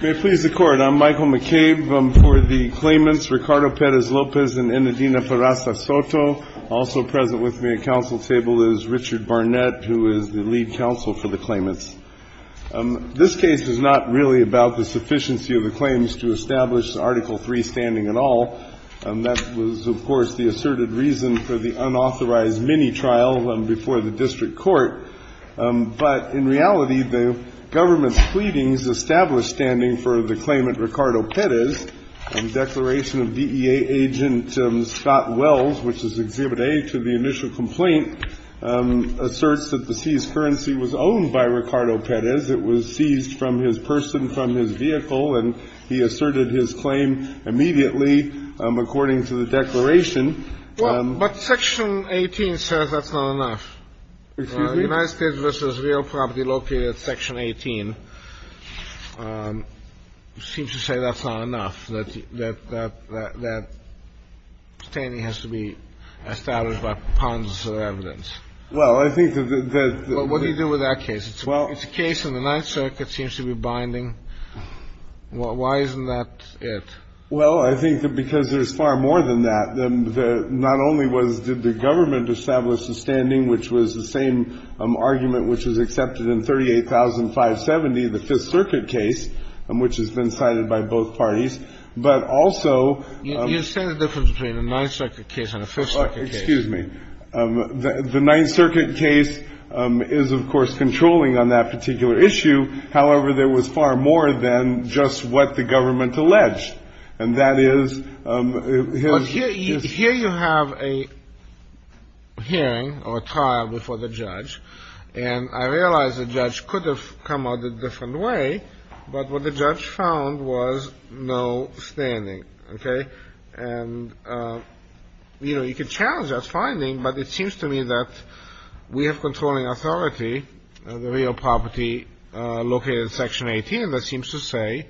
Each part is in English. May it please the Court, I'm Michael McCabe for the claimants Ricardo Perez-Lopez and Enedina Ferraza Soto. Also present with me at council table is Richard Barnett, who is the lead counsel for the claimants. This case is not really about the sufficiency of the claims to establish Article III standing at all. That was, of course, the asserted reason for the unauthorized mini-trial before the district court. But in reality, the government's pleadings established standing for the claimant Ricardo Perez. The declaration of DEA agent Scott Wells, which is Exhibit A to the initial complaint, asserts that the seized currency was owned by Ricardo Perez. It was seized from his person, from his vehicle, and he asserted his claim immediately, according to the declaration. But Section 18 says that's not enough. Excuse me? The United States v. Real Property located at Section 18 seems to say that's not enough, that standing has to be established by ponderance of evidence. Well, I think that the — Well, what do you do with that case? It's a case in the Ninth Circuit that seems to be binding. Why isn't that it? Well, I think that because there's far more than that. Not only was — did the government establish the standing, which was the same argument which was accepted in 38,570, the Fifth Circuit case, which has been cited by both parties, but also — You say the difference between a Ninth Circuit case and a Fifth Circuit case. Excuse me. The Ninth Circuit case is, of course, controlling on that particular issue. However, there was far more than just what the government alleged. And that is — But here you have a hearing or a trial before the judge. And I realize the judge could have come out a different way. But what the judge found was no standing. Okay? And, you know, you could challenge that finding, but it seems to me that we have controlling authority. The real property located in Section 18, that seems to say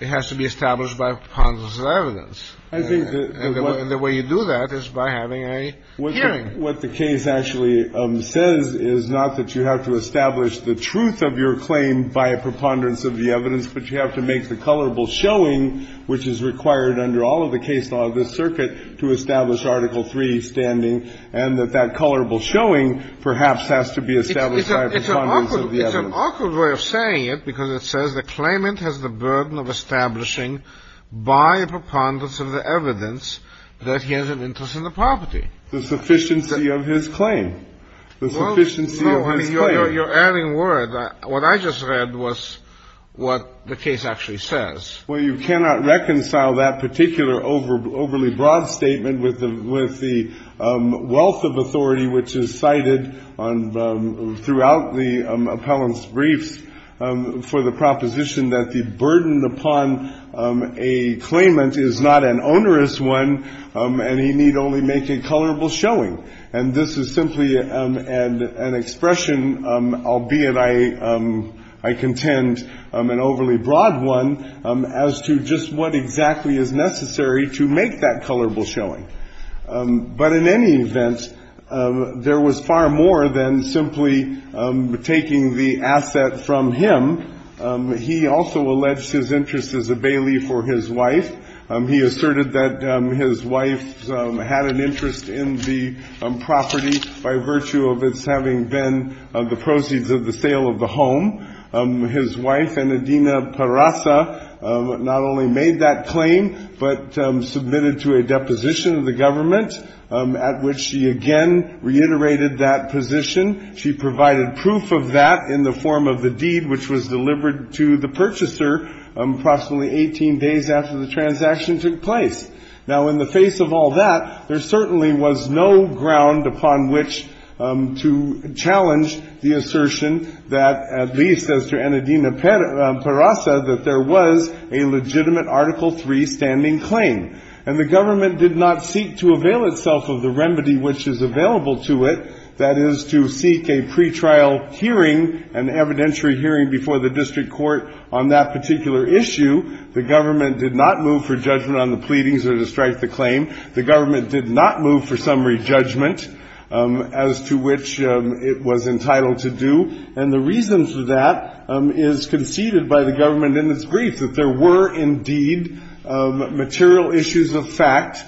it has to be established by a preponderance of evidence. And the way you do that is by having a hearing. What the case actually says is not that you have to establish the truth of your claim by a preponderance of the evidence, but you have to make the colorable showing, which is required under all of the case law of this circuit, to establish Article III standing, and that that colorable showing perhaps has to be established by a preponderance of the evidence. It's an awkward way of saying it, because it says the claimant has the burden of establishing by a preponderance of the evidence that he has an interest in the property. The sufficiency of his claim. The sufficiency of his claim. Well, no, honey, you're adding word. What I just read was what the case actually says. Well, you cannot reconcile that particular overly broad statement with the wealth of authority which is cited throughout the appellant's briefs for the proposition that the burden upon a claimant is not an onerous one and he need only make a colorable showing. And this is simply an expression, albeit I contend an overly broad one, as to just what exactly is necessary to make that colorable showing. But in any event, there was far more than simply taking the asset from him. He also alleged his interest as a bailey for his wife. He asserted that his wife had an interest in the property by virtue of its having been the proceeds of the sale of the home. His wife, Enedina Parasa, not only made that claim, but submitted to a deposition of the government at which she again reiterated that position. She provided proof of that in the form of the deed which was delivered to the purchaser approximately 18 days after the transaction took place. Now, in the face of all that, there certainly was no ground upon which to challenge the assertion that, at least as to Enedina Parasa, that there was a legitimate Article III standing claim. And the government did not seek to avail itself of the remedy which is available to it, that is, to seek a pretrial hearing, an evidentiary hearing before the district court on that particular issue. The government did not move for judgment on the pleadings or to strike the claim. The government did not move for summary judgment as to which it was entitled to do, and the reason for that is conceded by the government in its brief, that there were indeed material issues of fact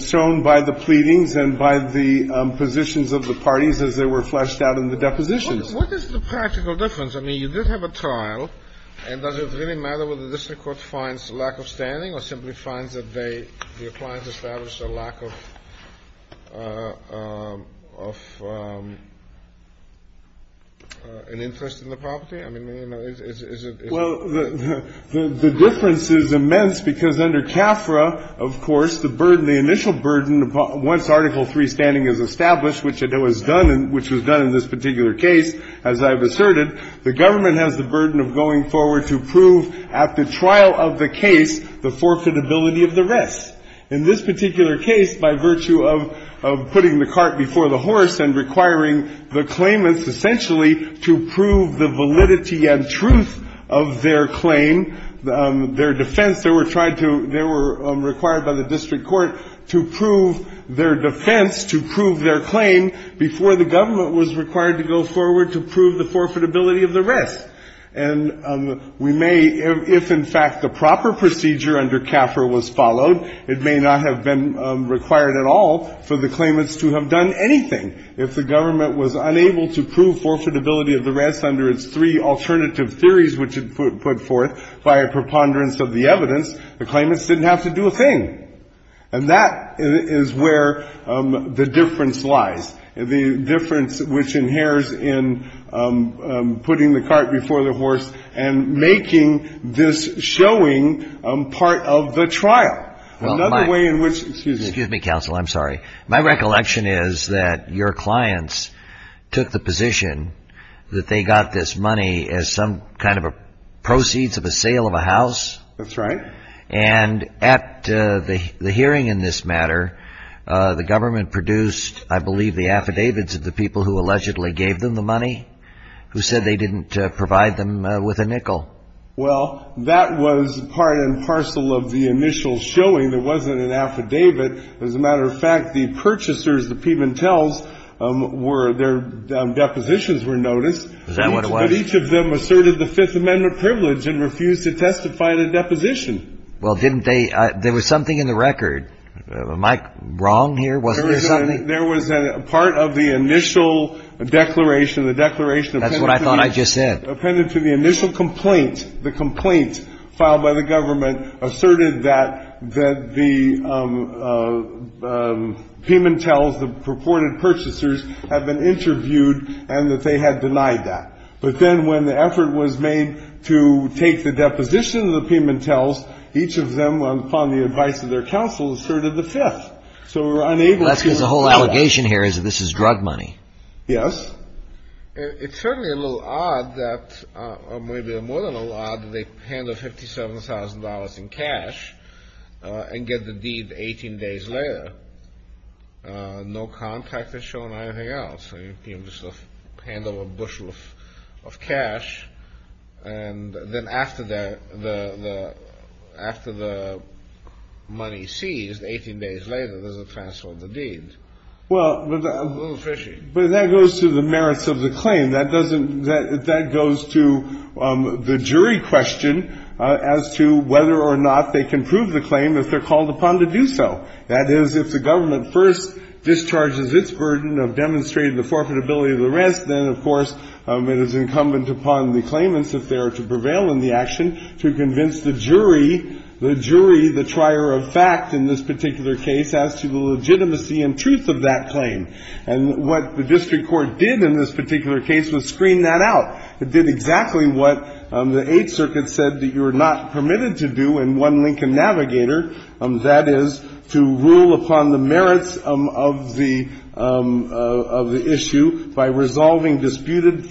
shown by the pleadings and by the positions of the parties as they were fleshed out in the depositions. What is the practical difference? I mean, you did have a trial, and does it really matter whether the district court finds lack of standing or simply finds that they, the appliance established a lack of an interest in the property? I mean, is it? Well, the difference is immense because under CAFRA, of course, the burden, the initial burden, once Article III standing is established, which it was done, which was done in this particular case, as I've asserted, the government has the burden of going forward to prove at the trial of the case the forfeitability of the rest. In this particular case, by virtue of putting the cart before the horse and requiring the claimants essentially to prove the validity and truth of their claim, their defense, they were tried to, they were required by the district court to prove their defense, to prove their claim before the government was required to go forward to prove the forfeitability of the rest. And we may, if in fact the proper procedure under CAFRA was followed, it may not have been required at all for the claimants to have done anything. If the government was unable to prove forfeitability of the rest under its three alternative theories which it put forth via preponderance of the evidence, the claimants didn't have to do a thing. And that is where the difference lies. The difference which inheres in putting the cart before the horse and making this showing part of the trial. Another way in which, excuse me. Excuse me, counsel, I'm sorry. My recollection is that your clients took the position that they got this money as some kind of a proceeds of a sale of a house. That's right. And at the hearing in this matter, the government produced, I believe, the affidavits of the people who allegedly gave them the money, who said they didn't provide them with a nickel. Well, that was part and parcel of the initial showing. There wasn't an affidavit. As a matter of fact, the purchasers, the Pimentels, their depositions were noticed. Is that what it was? But each of them asserted the Fifth Amendment privilege and refused to testify in a deposition. Well, didn't they? There was something in the record. Am I wrong here? Wasn't there something? There was a part of the initial declaration, the declaration appended to the initial complaint. That's what I thought I just said. The complaint filed by the government asserted that the Pimentels, the purported purchasers, had been interviewed and that they had denied that. But then when the effort was made to take the deposition of the Pimentels, each of them, upon the advice of their counsel, asserted the Fifth. So we're unable to do that. That's because the whole allegation here is that this is drug money. Yes. It's certainly a little odd that, or maybe more than a little odd, that they hand over $57,000 in cash and get the deed 18 days later. No contact has shown anything else. They just hand over a bushel of cash. And then after the money is seized, 18 days later, there's a transfer of the deed. Well, that goes to the merits of the claim. That goes to the jury question as to whether or not they can prove the claim if they're called upon to do so. That is, if the government first discharges its burden of demonstrating the forfeitability of the rest, then, of course, it is incumbent upon the claimants, if they are to prevail in the action, to convince the jury, the jury, the trier of fact in this particular case, as to the legitimacy and truth of that claim. And what the district court did in this particular case was screen that out. It did exactly what the Eighth Circuit said that you're not permitted to do in one Lincoln Navigator, that is, to rule upon the merits of the issue by resolving disputed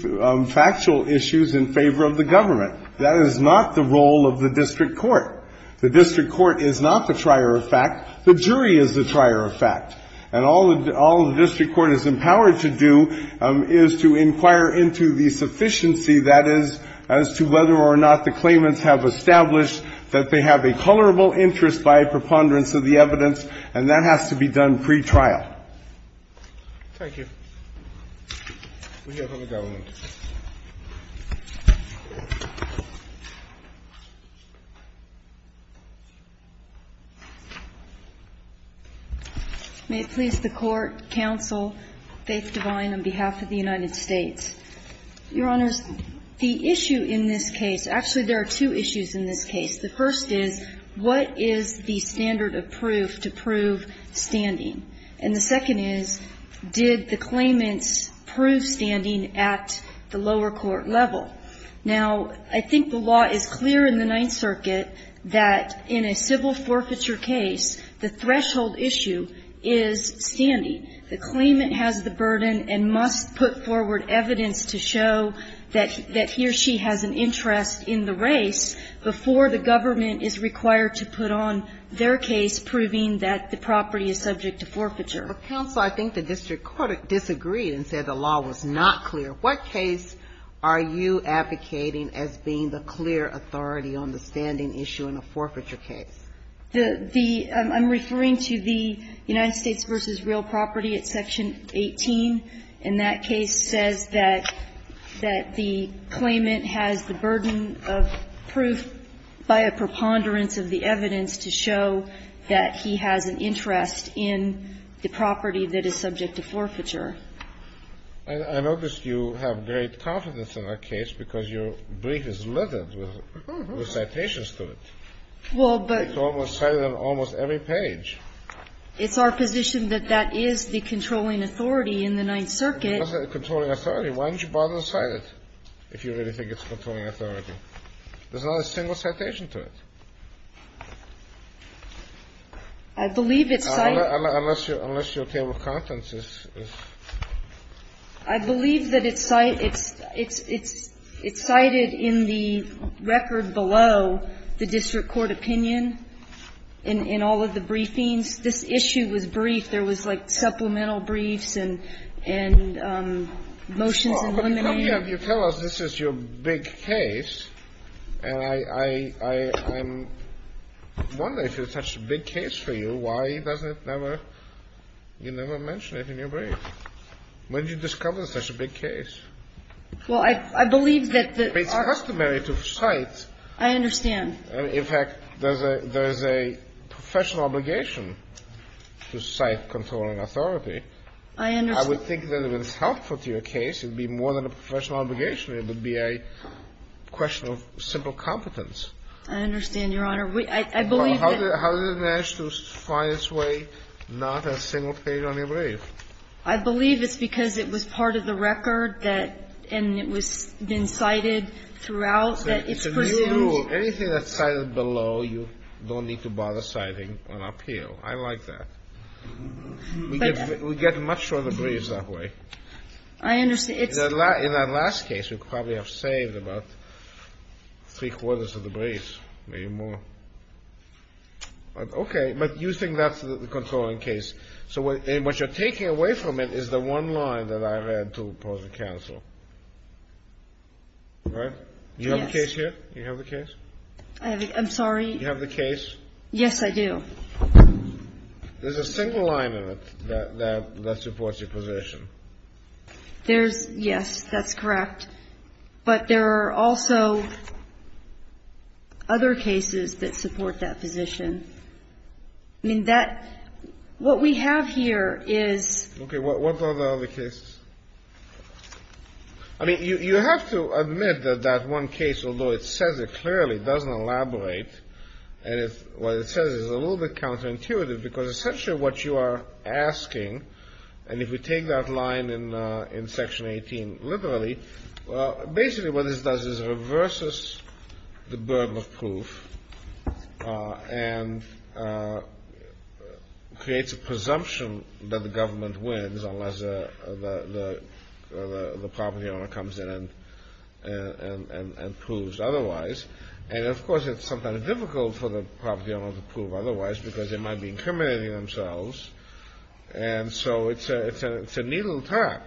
factual issues in favor of the government. That is not the role of the district court. The district court is not the trier of fact. The jury is the trier of fact. And all the district court is empowered to do is to inquire into the sufficiency, that is, as to whether or not the claimants have established that they have a colorable interest by a preponderance of the evidence, and that has to be done pretrial. Thank you. We'll hear from the government. May it please the Court, counsel, Faith Divine, on behalf of the United States. Your Honors, the issue in this case, actually there are two issues in this case. The first is, what is the standard of proof to prove standing? And the second is, did the claimants prove standing at the lower court level? Now, I think the law is clear in the Ninth Circuit that in a civil forfeiture case, the threshold issue is standing. The claimant has the burden and must put forward evidence to show that he or she has an interest in the race before the government is required to put on their case proving that the property is subject to forfeiture. But, counsel, I think the district court disagreed and said the law was not clear. What case are you advocating as being the clear authority on the standing issue in a forfeiture case? I'm referring to the United States v. Real Property at Section 18. And that case says that the claimant has the burden of proof by a preponderance of the evidence to show that he has an interest in the property that is subject to forfeiture. I notice you have great confidence in that case because your brief is littered with citations to it. It's almost cited on almost every page. It's our position that that is the controlling authority in the Ninth Circuit. It's not a controlling authority. Why don't you bother to cite it if you really think it's a controlling authority? There's not a single citation to it. I believe it's cited. Unless your table of contents is. I believe that it's cited in the record below the district court opinion in all of the briefings. This issue was brief. There was, like, supplemental briefs and motions and limitations. Well, but you tell us this is your big case, and I'm wondering if it's such a big case for you, why doesn't it ever you never mention it in your brief? When did you discover it's such a big case? Well, I believe that the. It's customary to cite. I understand. In fact, there's a professional obligation to cite controlling authority. I understand. I would think that if it's helpful to your case, it would be more than a professional obligation. It would be a question of simple competence. I understand, Your Honor. I believe that. How did it manage to find its way not a single page on your brief? I believe it's because it was part of the record that, and it was been cited throughout that it's presumed. It's a new rule. Anything that's cited below, you don't need to bother citing on appeal. I like that. We get much shorter briefs that way. I understand. In that last case, we probably have saved about three-quarters of the briefs, maybe more. Okay. But you think that's the controlling case. So what you're taking away from it is the one line that I read to opposing counsel. Right? Yes. Do you have the case here? Do you have the case? I'm sorry. Do you have the case? Yes, I do. There's a single line in it that supports your position. There's, yes, that's correct. But there are also other cases that support that position. I mean, that, what we have here is. Okay. What are the other cases? I mean, you have to admit that that one case, although it says it clearly, doesn't elaborate. And what it says is a little bit counterintuitive because essentially what you are asking, and if we take that line in Section 18 literally, basically what this does is reverses the burden of proof. And creates a presumption that the government wins unless the property owner comes in and proves otherwise. And, of course, it's sometimes difficult for the property owner to prove otherwise because they might be incriminating themselves. And so it's a needle tap.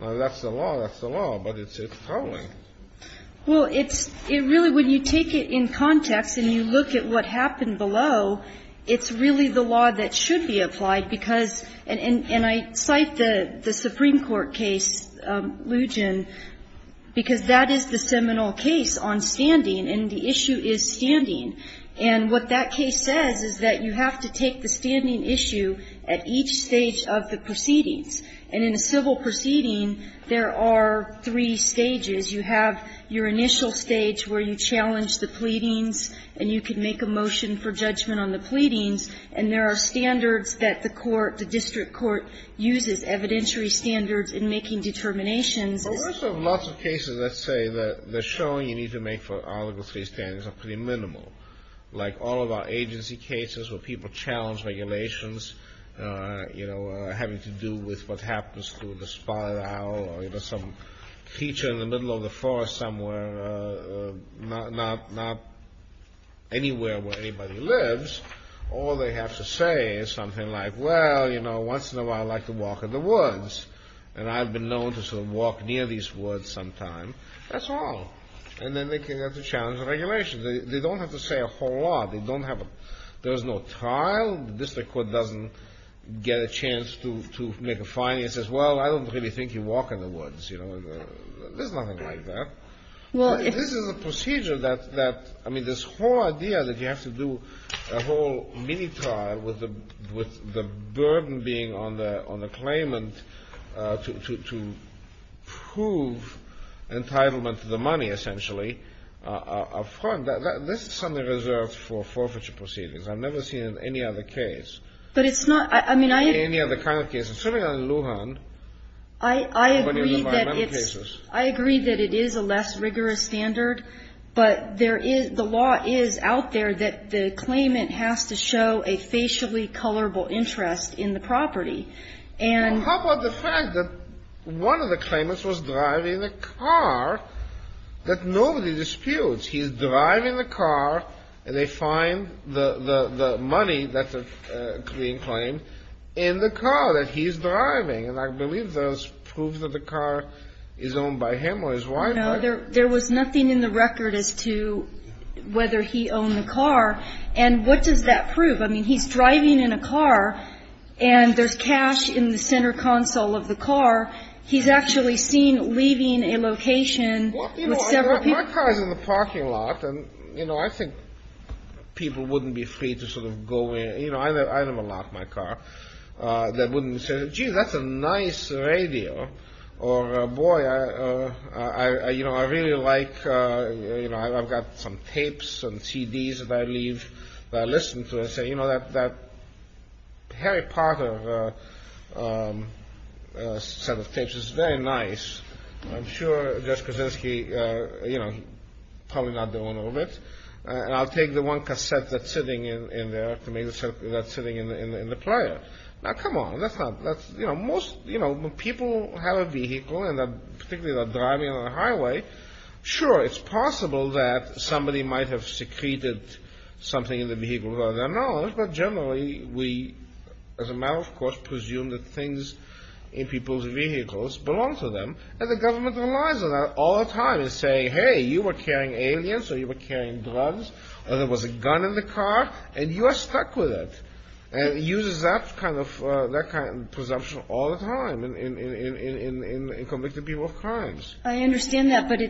That's the law. That's the law. But it's controlling. Well, it's, it really, when you take it in context and you look at what happened below, it's really the law that should be applied because, and I cite the Supreme Court case, Lugin, because that is the seminal case on standing and the issue is standing. And what that case says is that you have to take the standing issue at each stage of the proceedings. And in a civil proceeding, there are three stages. You have your initial stage where you challenge the pleadings and you can make a motion for judgment on the pleadings. And there are standards that the court, the district court, uses, evidentiary standards in making determinations. But we also have lots of cases that say that the showing you need to make for Article III standings are pretty minimal. Like all of our agency cases where people challenge regulations, you know, having to do with what happens to the spotted owl or, you know, some creature in the middle of the forest somewhere, not, not, not anywhere where anybody lives. All they have to say is something like, well, you know, once in a while I like to walk in the woods. And I've been known to sort of walk near these woods sometimes. That's all. And then they can have to challenge the regulations. They don't have to say a whole lot. They don't have a, there's no trial. The district court doesn't get a chance to, to make a fine. It says, well, I don't really think you walk in the woods, you know. There's nothing like that. This is a procedure that, that, I mean, this whole idea that you have to do a whole mini-trial with the, with the burden being on the, on the claimant to, to, to prove entitlement to the money, essentially, are, are fun. This is something reserved for forfeiture proceedings. I've never seen it in any other case. But it's not, I mean, I agree. In any other kind of case. It's certainly not in Lujan. I, I agree that it's, I agree that it is a less rigorous standard. But there is, the law is out there that the claimant has to show a facially colorable interest in the property. And. Well, how about the fact that one of the claimants was driving a car that nobody disputes. He's driving the car, and they find the, the, the money that's being claimed in the car that he's driving. And I believe there's proof that the car is owned by him or his wife. No, there, there was nothing in the record as to whether he owned the car. And what does that prove? I mean, he's driving in a car, and there's cash in the center console of the car. He's actually seen leaving a location with several people. My car's in the parking lot. And, you know, I think people wouldn't be free to sort of go in. You know, I have a lot in my car that wouldn't say, gee, that's a nice radio. Or, boy, I, you know, I really like, you know, I've got some tapes and CDs that I leave, that I listen to. I say, you know, that, that Harry Potter set of tapes is very nice. I'm sure Josh Krasinski, you know, probably not the owner of it. And I'll take the one cassette that's sitting in there to make the set that's sitting in the player. Now, come on. That's not, that's, you know, most, you know, when people have a vehicle, and particularly they're driving on a highway, sure, it's possible that somebody might have secreted something in the vehicle without their knowledge. But generally, we, as a matter of course, presume that things in people's vehicles belong to them. And the government relies on that all the time, and say, hey, you were carrying aliens, or you were carrying drugs, or there was a gun in the car, and you are stuck with it. And it uses that kind of presumption all the time in convicted people of crimes. I understand that. But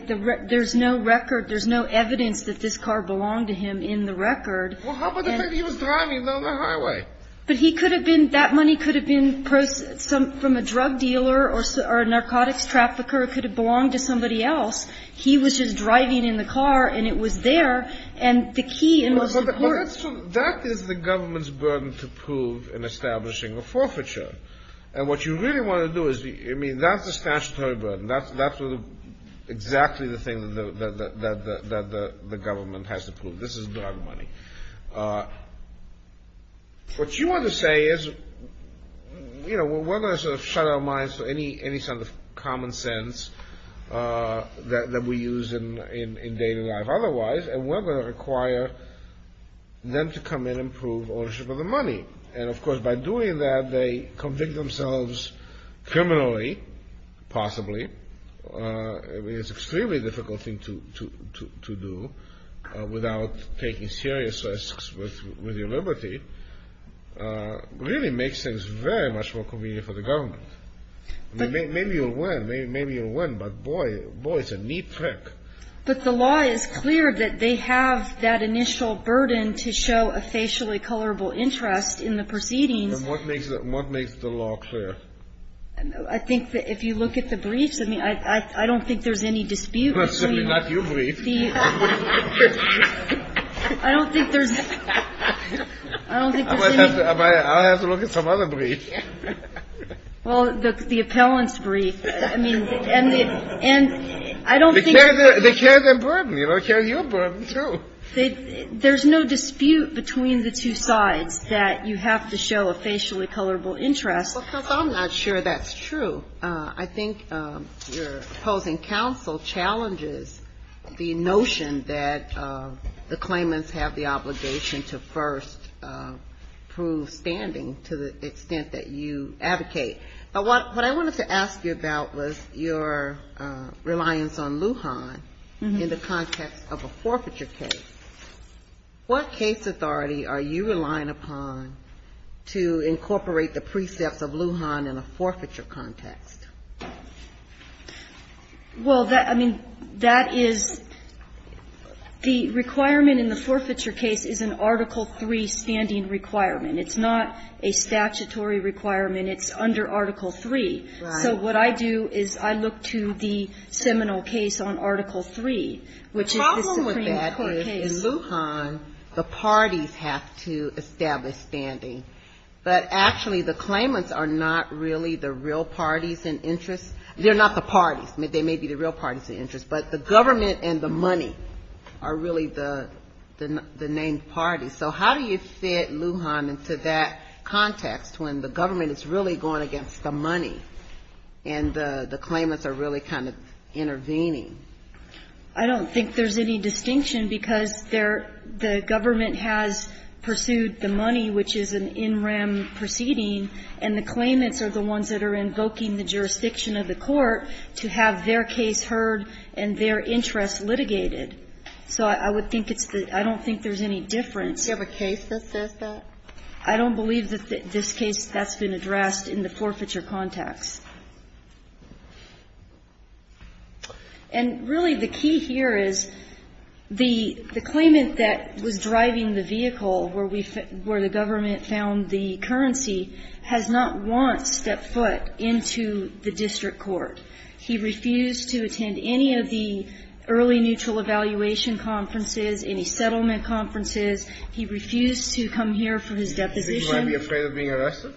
there's no record, there's no evidence that this car belonged to him in the record. Well, how about the fact he was driving down the highway? But he could have been, that money could have been from a drug dealer or a narcotics trafficker. It could have belonged to somebody else. He was just driving in the car, and it was there. And the key and most important. That is the government's burden to prove in establishing a forfeiture. And what you really want to do is, I mean, that's a statutory burden. That's exactly the thing that the government has to prove. This is drug money. What you want to say is, you know, we're going to sort of shut our minds to any sort of common sense that we use in day-to-day life otherwise, and we're going to require them to come in and prove ownership of the money. And, of course, by doing that, they convict themselves criminally, possibly. I mean, it's an extremely difficult thing to do without taking serious risks with your liberty. It really makes things very much more convenient for the government. I mean, maybe you'll win. Maybe you'll win. But, boy, it's a neat trick. But the law is clear that they have that initial burden to show a facially colorable interest in the proceedings. What makes the law clear? I think that if you look at the briefs, I mean, I don't think there's any dispute between the briefs. Well, certainly not your brief. I don't think there's any. I don't think there's any. I'll have to look at some other brief. Well, the appellant's brief. I mean, and I don't think there's any. They carry their burden. They carry your burden, too. There's no dispute between the two sides that you have to show a facially colorable interest. Because I'm not sure that's true. I think your opposing counsel challenges the notion that the claimants have the obligation to first prove standing to the extent that you advocate. But what I wanted to ask you about was your reliance on Lujan in the context of a forfeiture case. What case authority are you relying upon to incorporate the precepts of Lujan in a forfeiture context? Well, I mean, that is the requirement in the forfeiture case is an Article III standing requirement. It's not a statutory requirement. It's under Article III. Right. So what I do is I look to the seminal case on Article III, which is the Supreme Court case. In Lujan, the parties have to establish standing. But actually, the claimants are not really the real parties in interest. They're not the parties. They may be the real parties in interest. But the government and the money are really the named parties. So how do you fit Lujan into that context when the government is really going against the money and the claimants are really kind of intervening? I don't think there's any distinction, because there the government has pursued the money, which is an in rem proceeding, and the claimants are the ones that are invoking the jurisdiction of the court to have their case heard and their interest litigated. So I would think it's the – I don't think there's any difference. Do you have a case that says that? I don't believe that this case that's been addressed in the forfeiture context. And really, the key here is the claimant that was driving the vehicle where we – where the government found the currency has not once stepped foot into the district court. He refused to attend any of the early neutral evaluation conferences, any settlement conferences. He refused to come here for his deposition. He might be afraid of being arrested?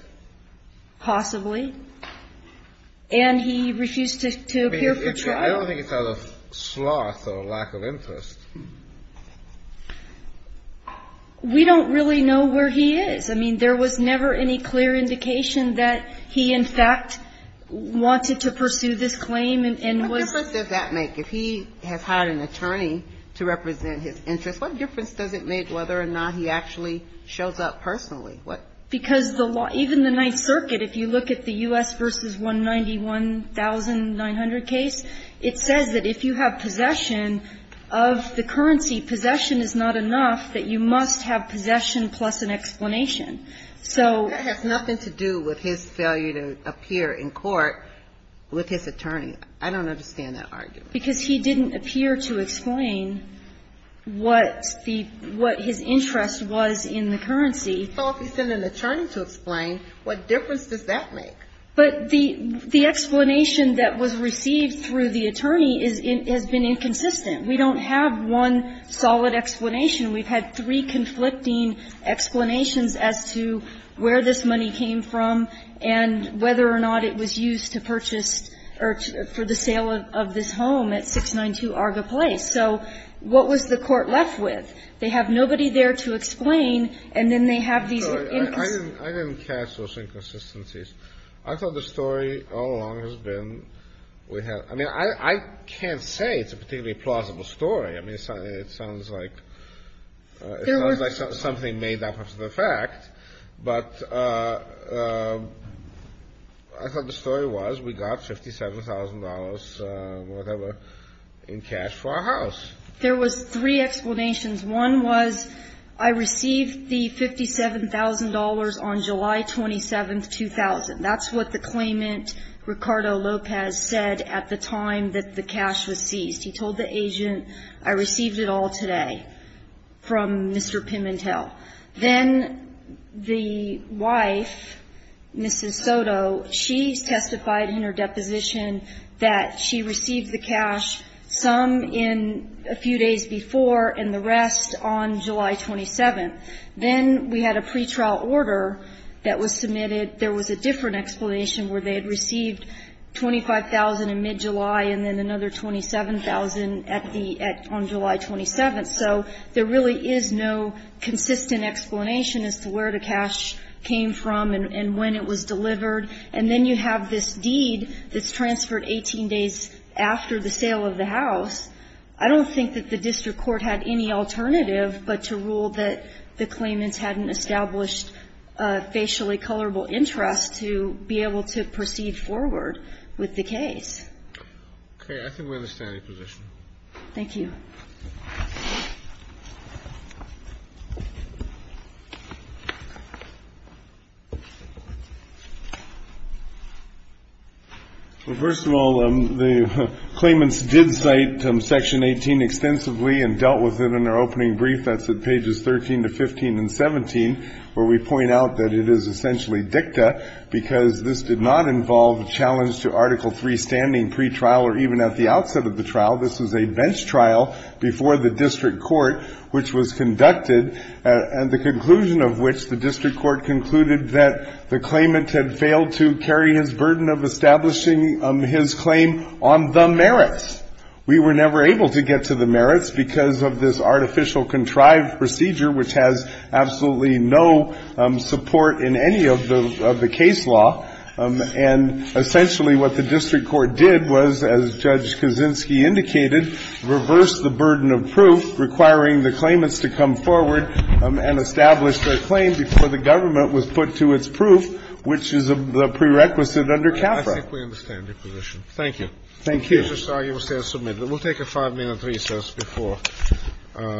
Possibly. And he refused to appear for trial. I don't think it's out of sloth or lack of interest. We don't really know where he is. I mean, there was never any clear indication that he, in fact, wanted to pursue this claim and was – What difference does that make? If he has hired an attorney to represent his interests, what difference does it make whether or not he actually shows up personally? Because the law – even the Ninth Circuit, if you look at the U.S. v. 191,900 case, it says that if you have possession of the currency, possession is not enough, that you must have possession plus an explanation. So – That has nothing to do with his failure to appear in court with his attorney. I don't understand that argument. Because he didn't appear to explain what the – what his interest was in the currency. Well, if he sent an attorney to explain, what difference does that make? But the explanation that was received through the attorney is – has been inconsistent. We don't have one solid explanation. We've had three conflicting explanations as to where this money came from and whether or not it was used to purchase or for the sale of this home at 692 Arga Place. So what was the court left with? They have nobody there to explain, and then they have these – I didn't catch those inconsistencies. I thought the story all along has been – I mean, I can't say it's a particularly plausible story. I mean, it sounds like – it sounds like something made up of the fact. But I thought the story was we got $57,000, whatever, in cash for our house. There was three explanations. One was, I received the $57,000 on July 27, 2000. That's what the claimant, Ricardo Lopez, said at the time that the cash was seized. He told the agent, I received it all today from Mr. Pimentel. Then the wife, Mrs. Soto, she testified in her deposition that she received the cash, some in a few days before and the rest on July 27. Then we had a pretrial order that was submitted. There was a different explanation where they had received $25,000 in mid-July and then another $27,000 at the – on July 27. So there really is no consistent explanation as to where the cash came from and when it was delivered. And then you have this deed that's transferred 18 days after the sale of the house. I don't think that the district court had any alternative but to rule that the claimants hadn't established a facially colorable interest to be able to proceed forward with the case. Okay. I think we're in a standing position. Thank you. Well, first of all, the claimants did cite Section 18 extensively and dealt with it in their opening brief. That's at pages 13 to 15 and 17, where we point out that it is essentially dicta because this did not involve a challenge to Article III standing pretrial or even at the outset of the trial. This was a bench trial. And essentially what the district court did was, as Judge Kaczynski indicated, before the district court, which was conducted, and the conclusion of which the district court concluded that the claimant had failed to carry his burden of establishing his claim on the merits. We were never able to get to the merits because of this artificial contrived procedure, which has absolutely no support in any of the case law. And essentially what the district court did was, as Judge Kaczynski indicated, reverse the burden of proof, requiring the claimants to come forward and establish their claim before the government was put to its proof, which is the prerequisite under CAFRA. I think we're in a standing position. Thank you. Thank you. We'll take a five-minute recess before. Thank you.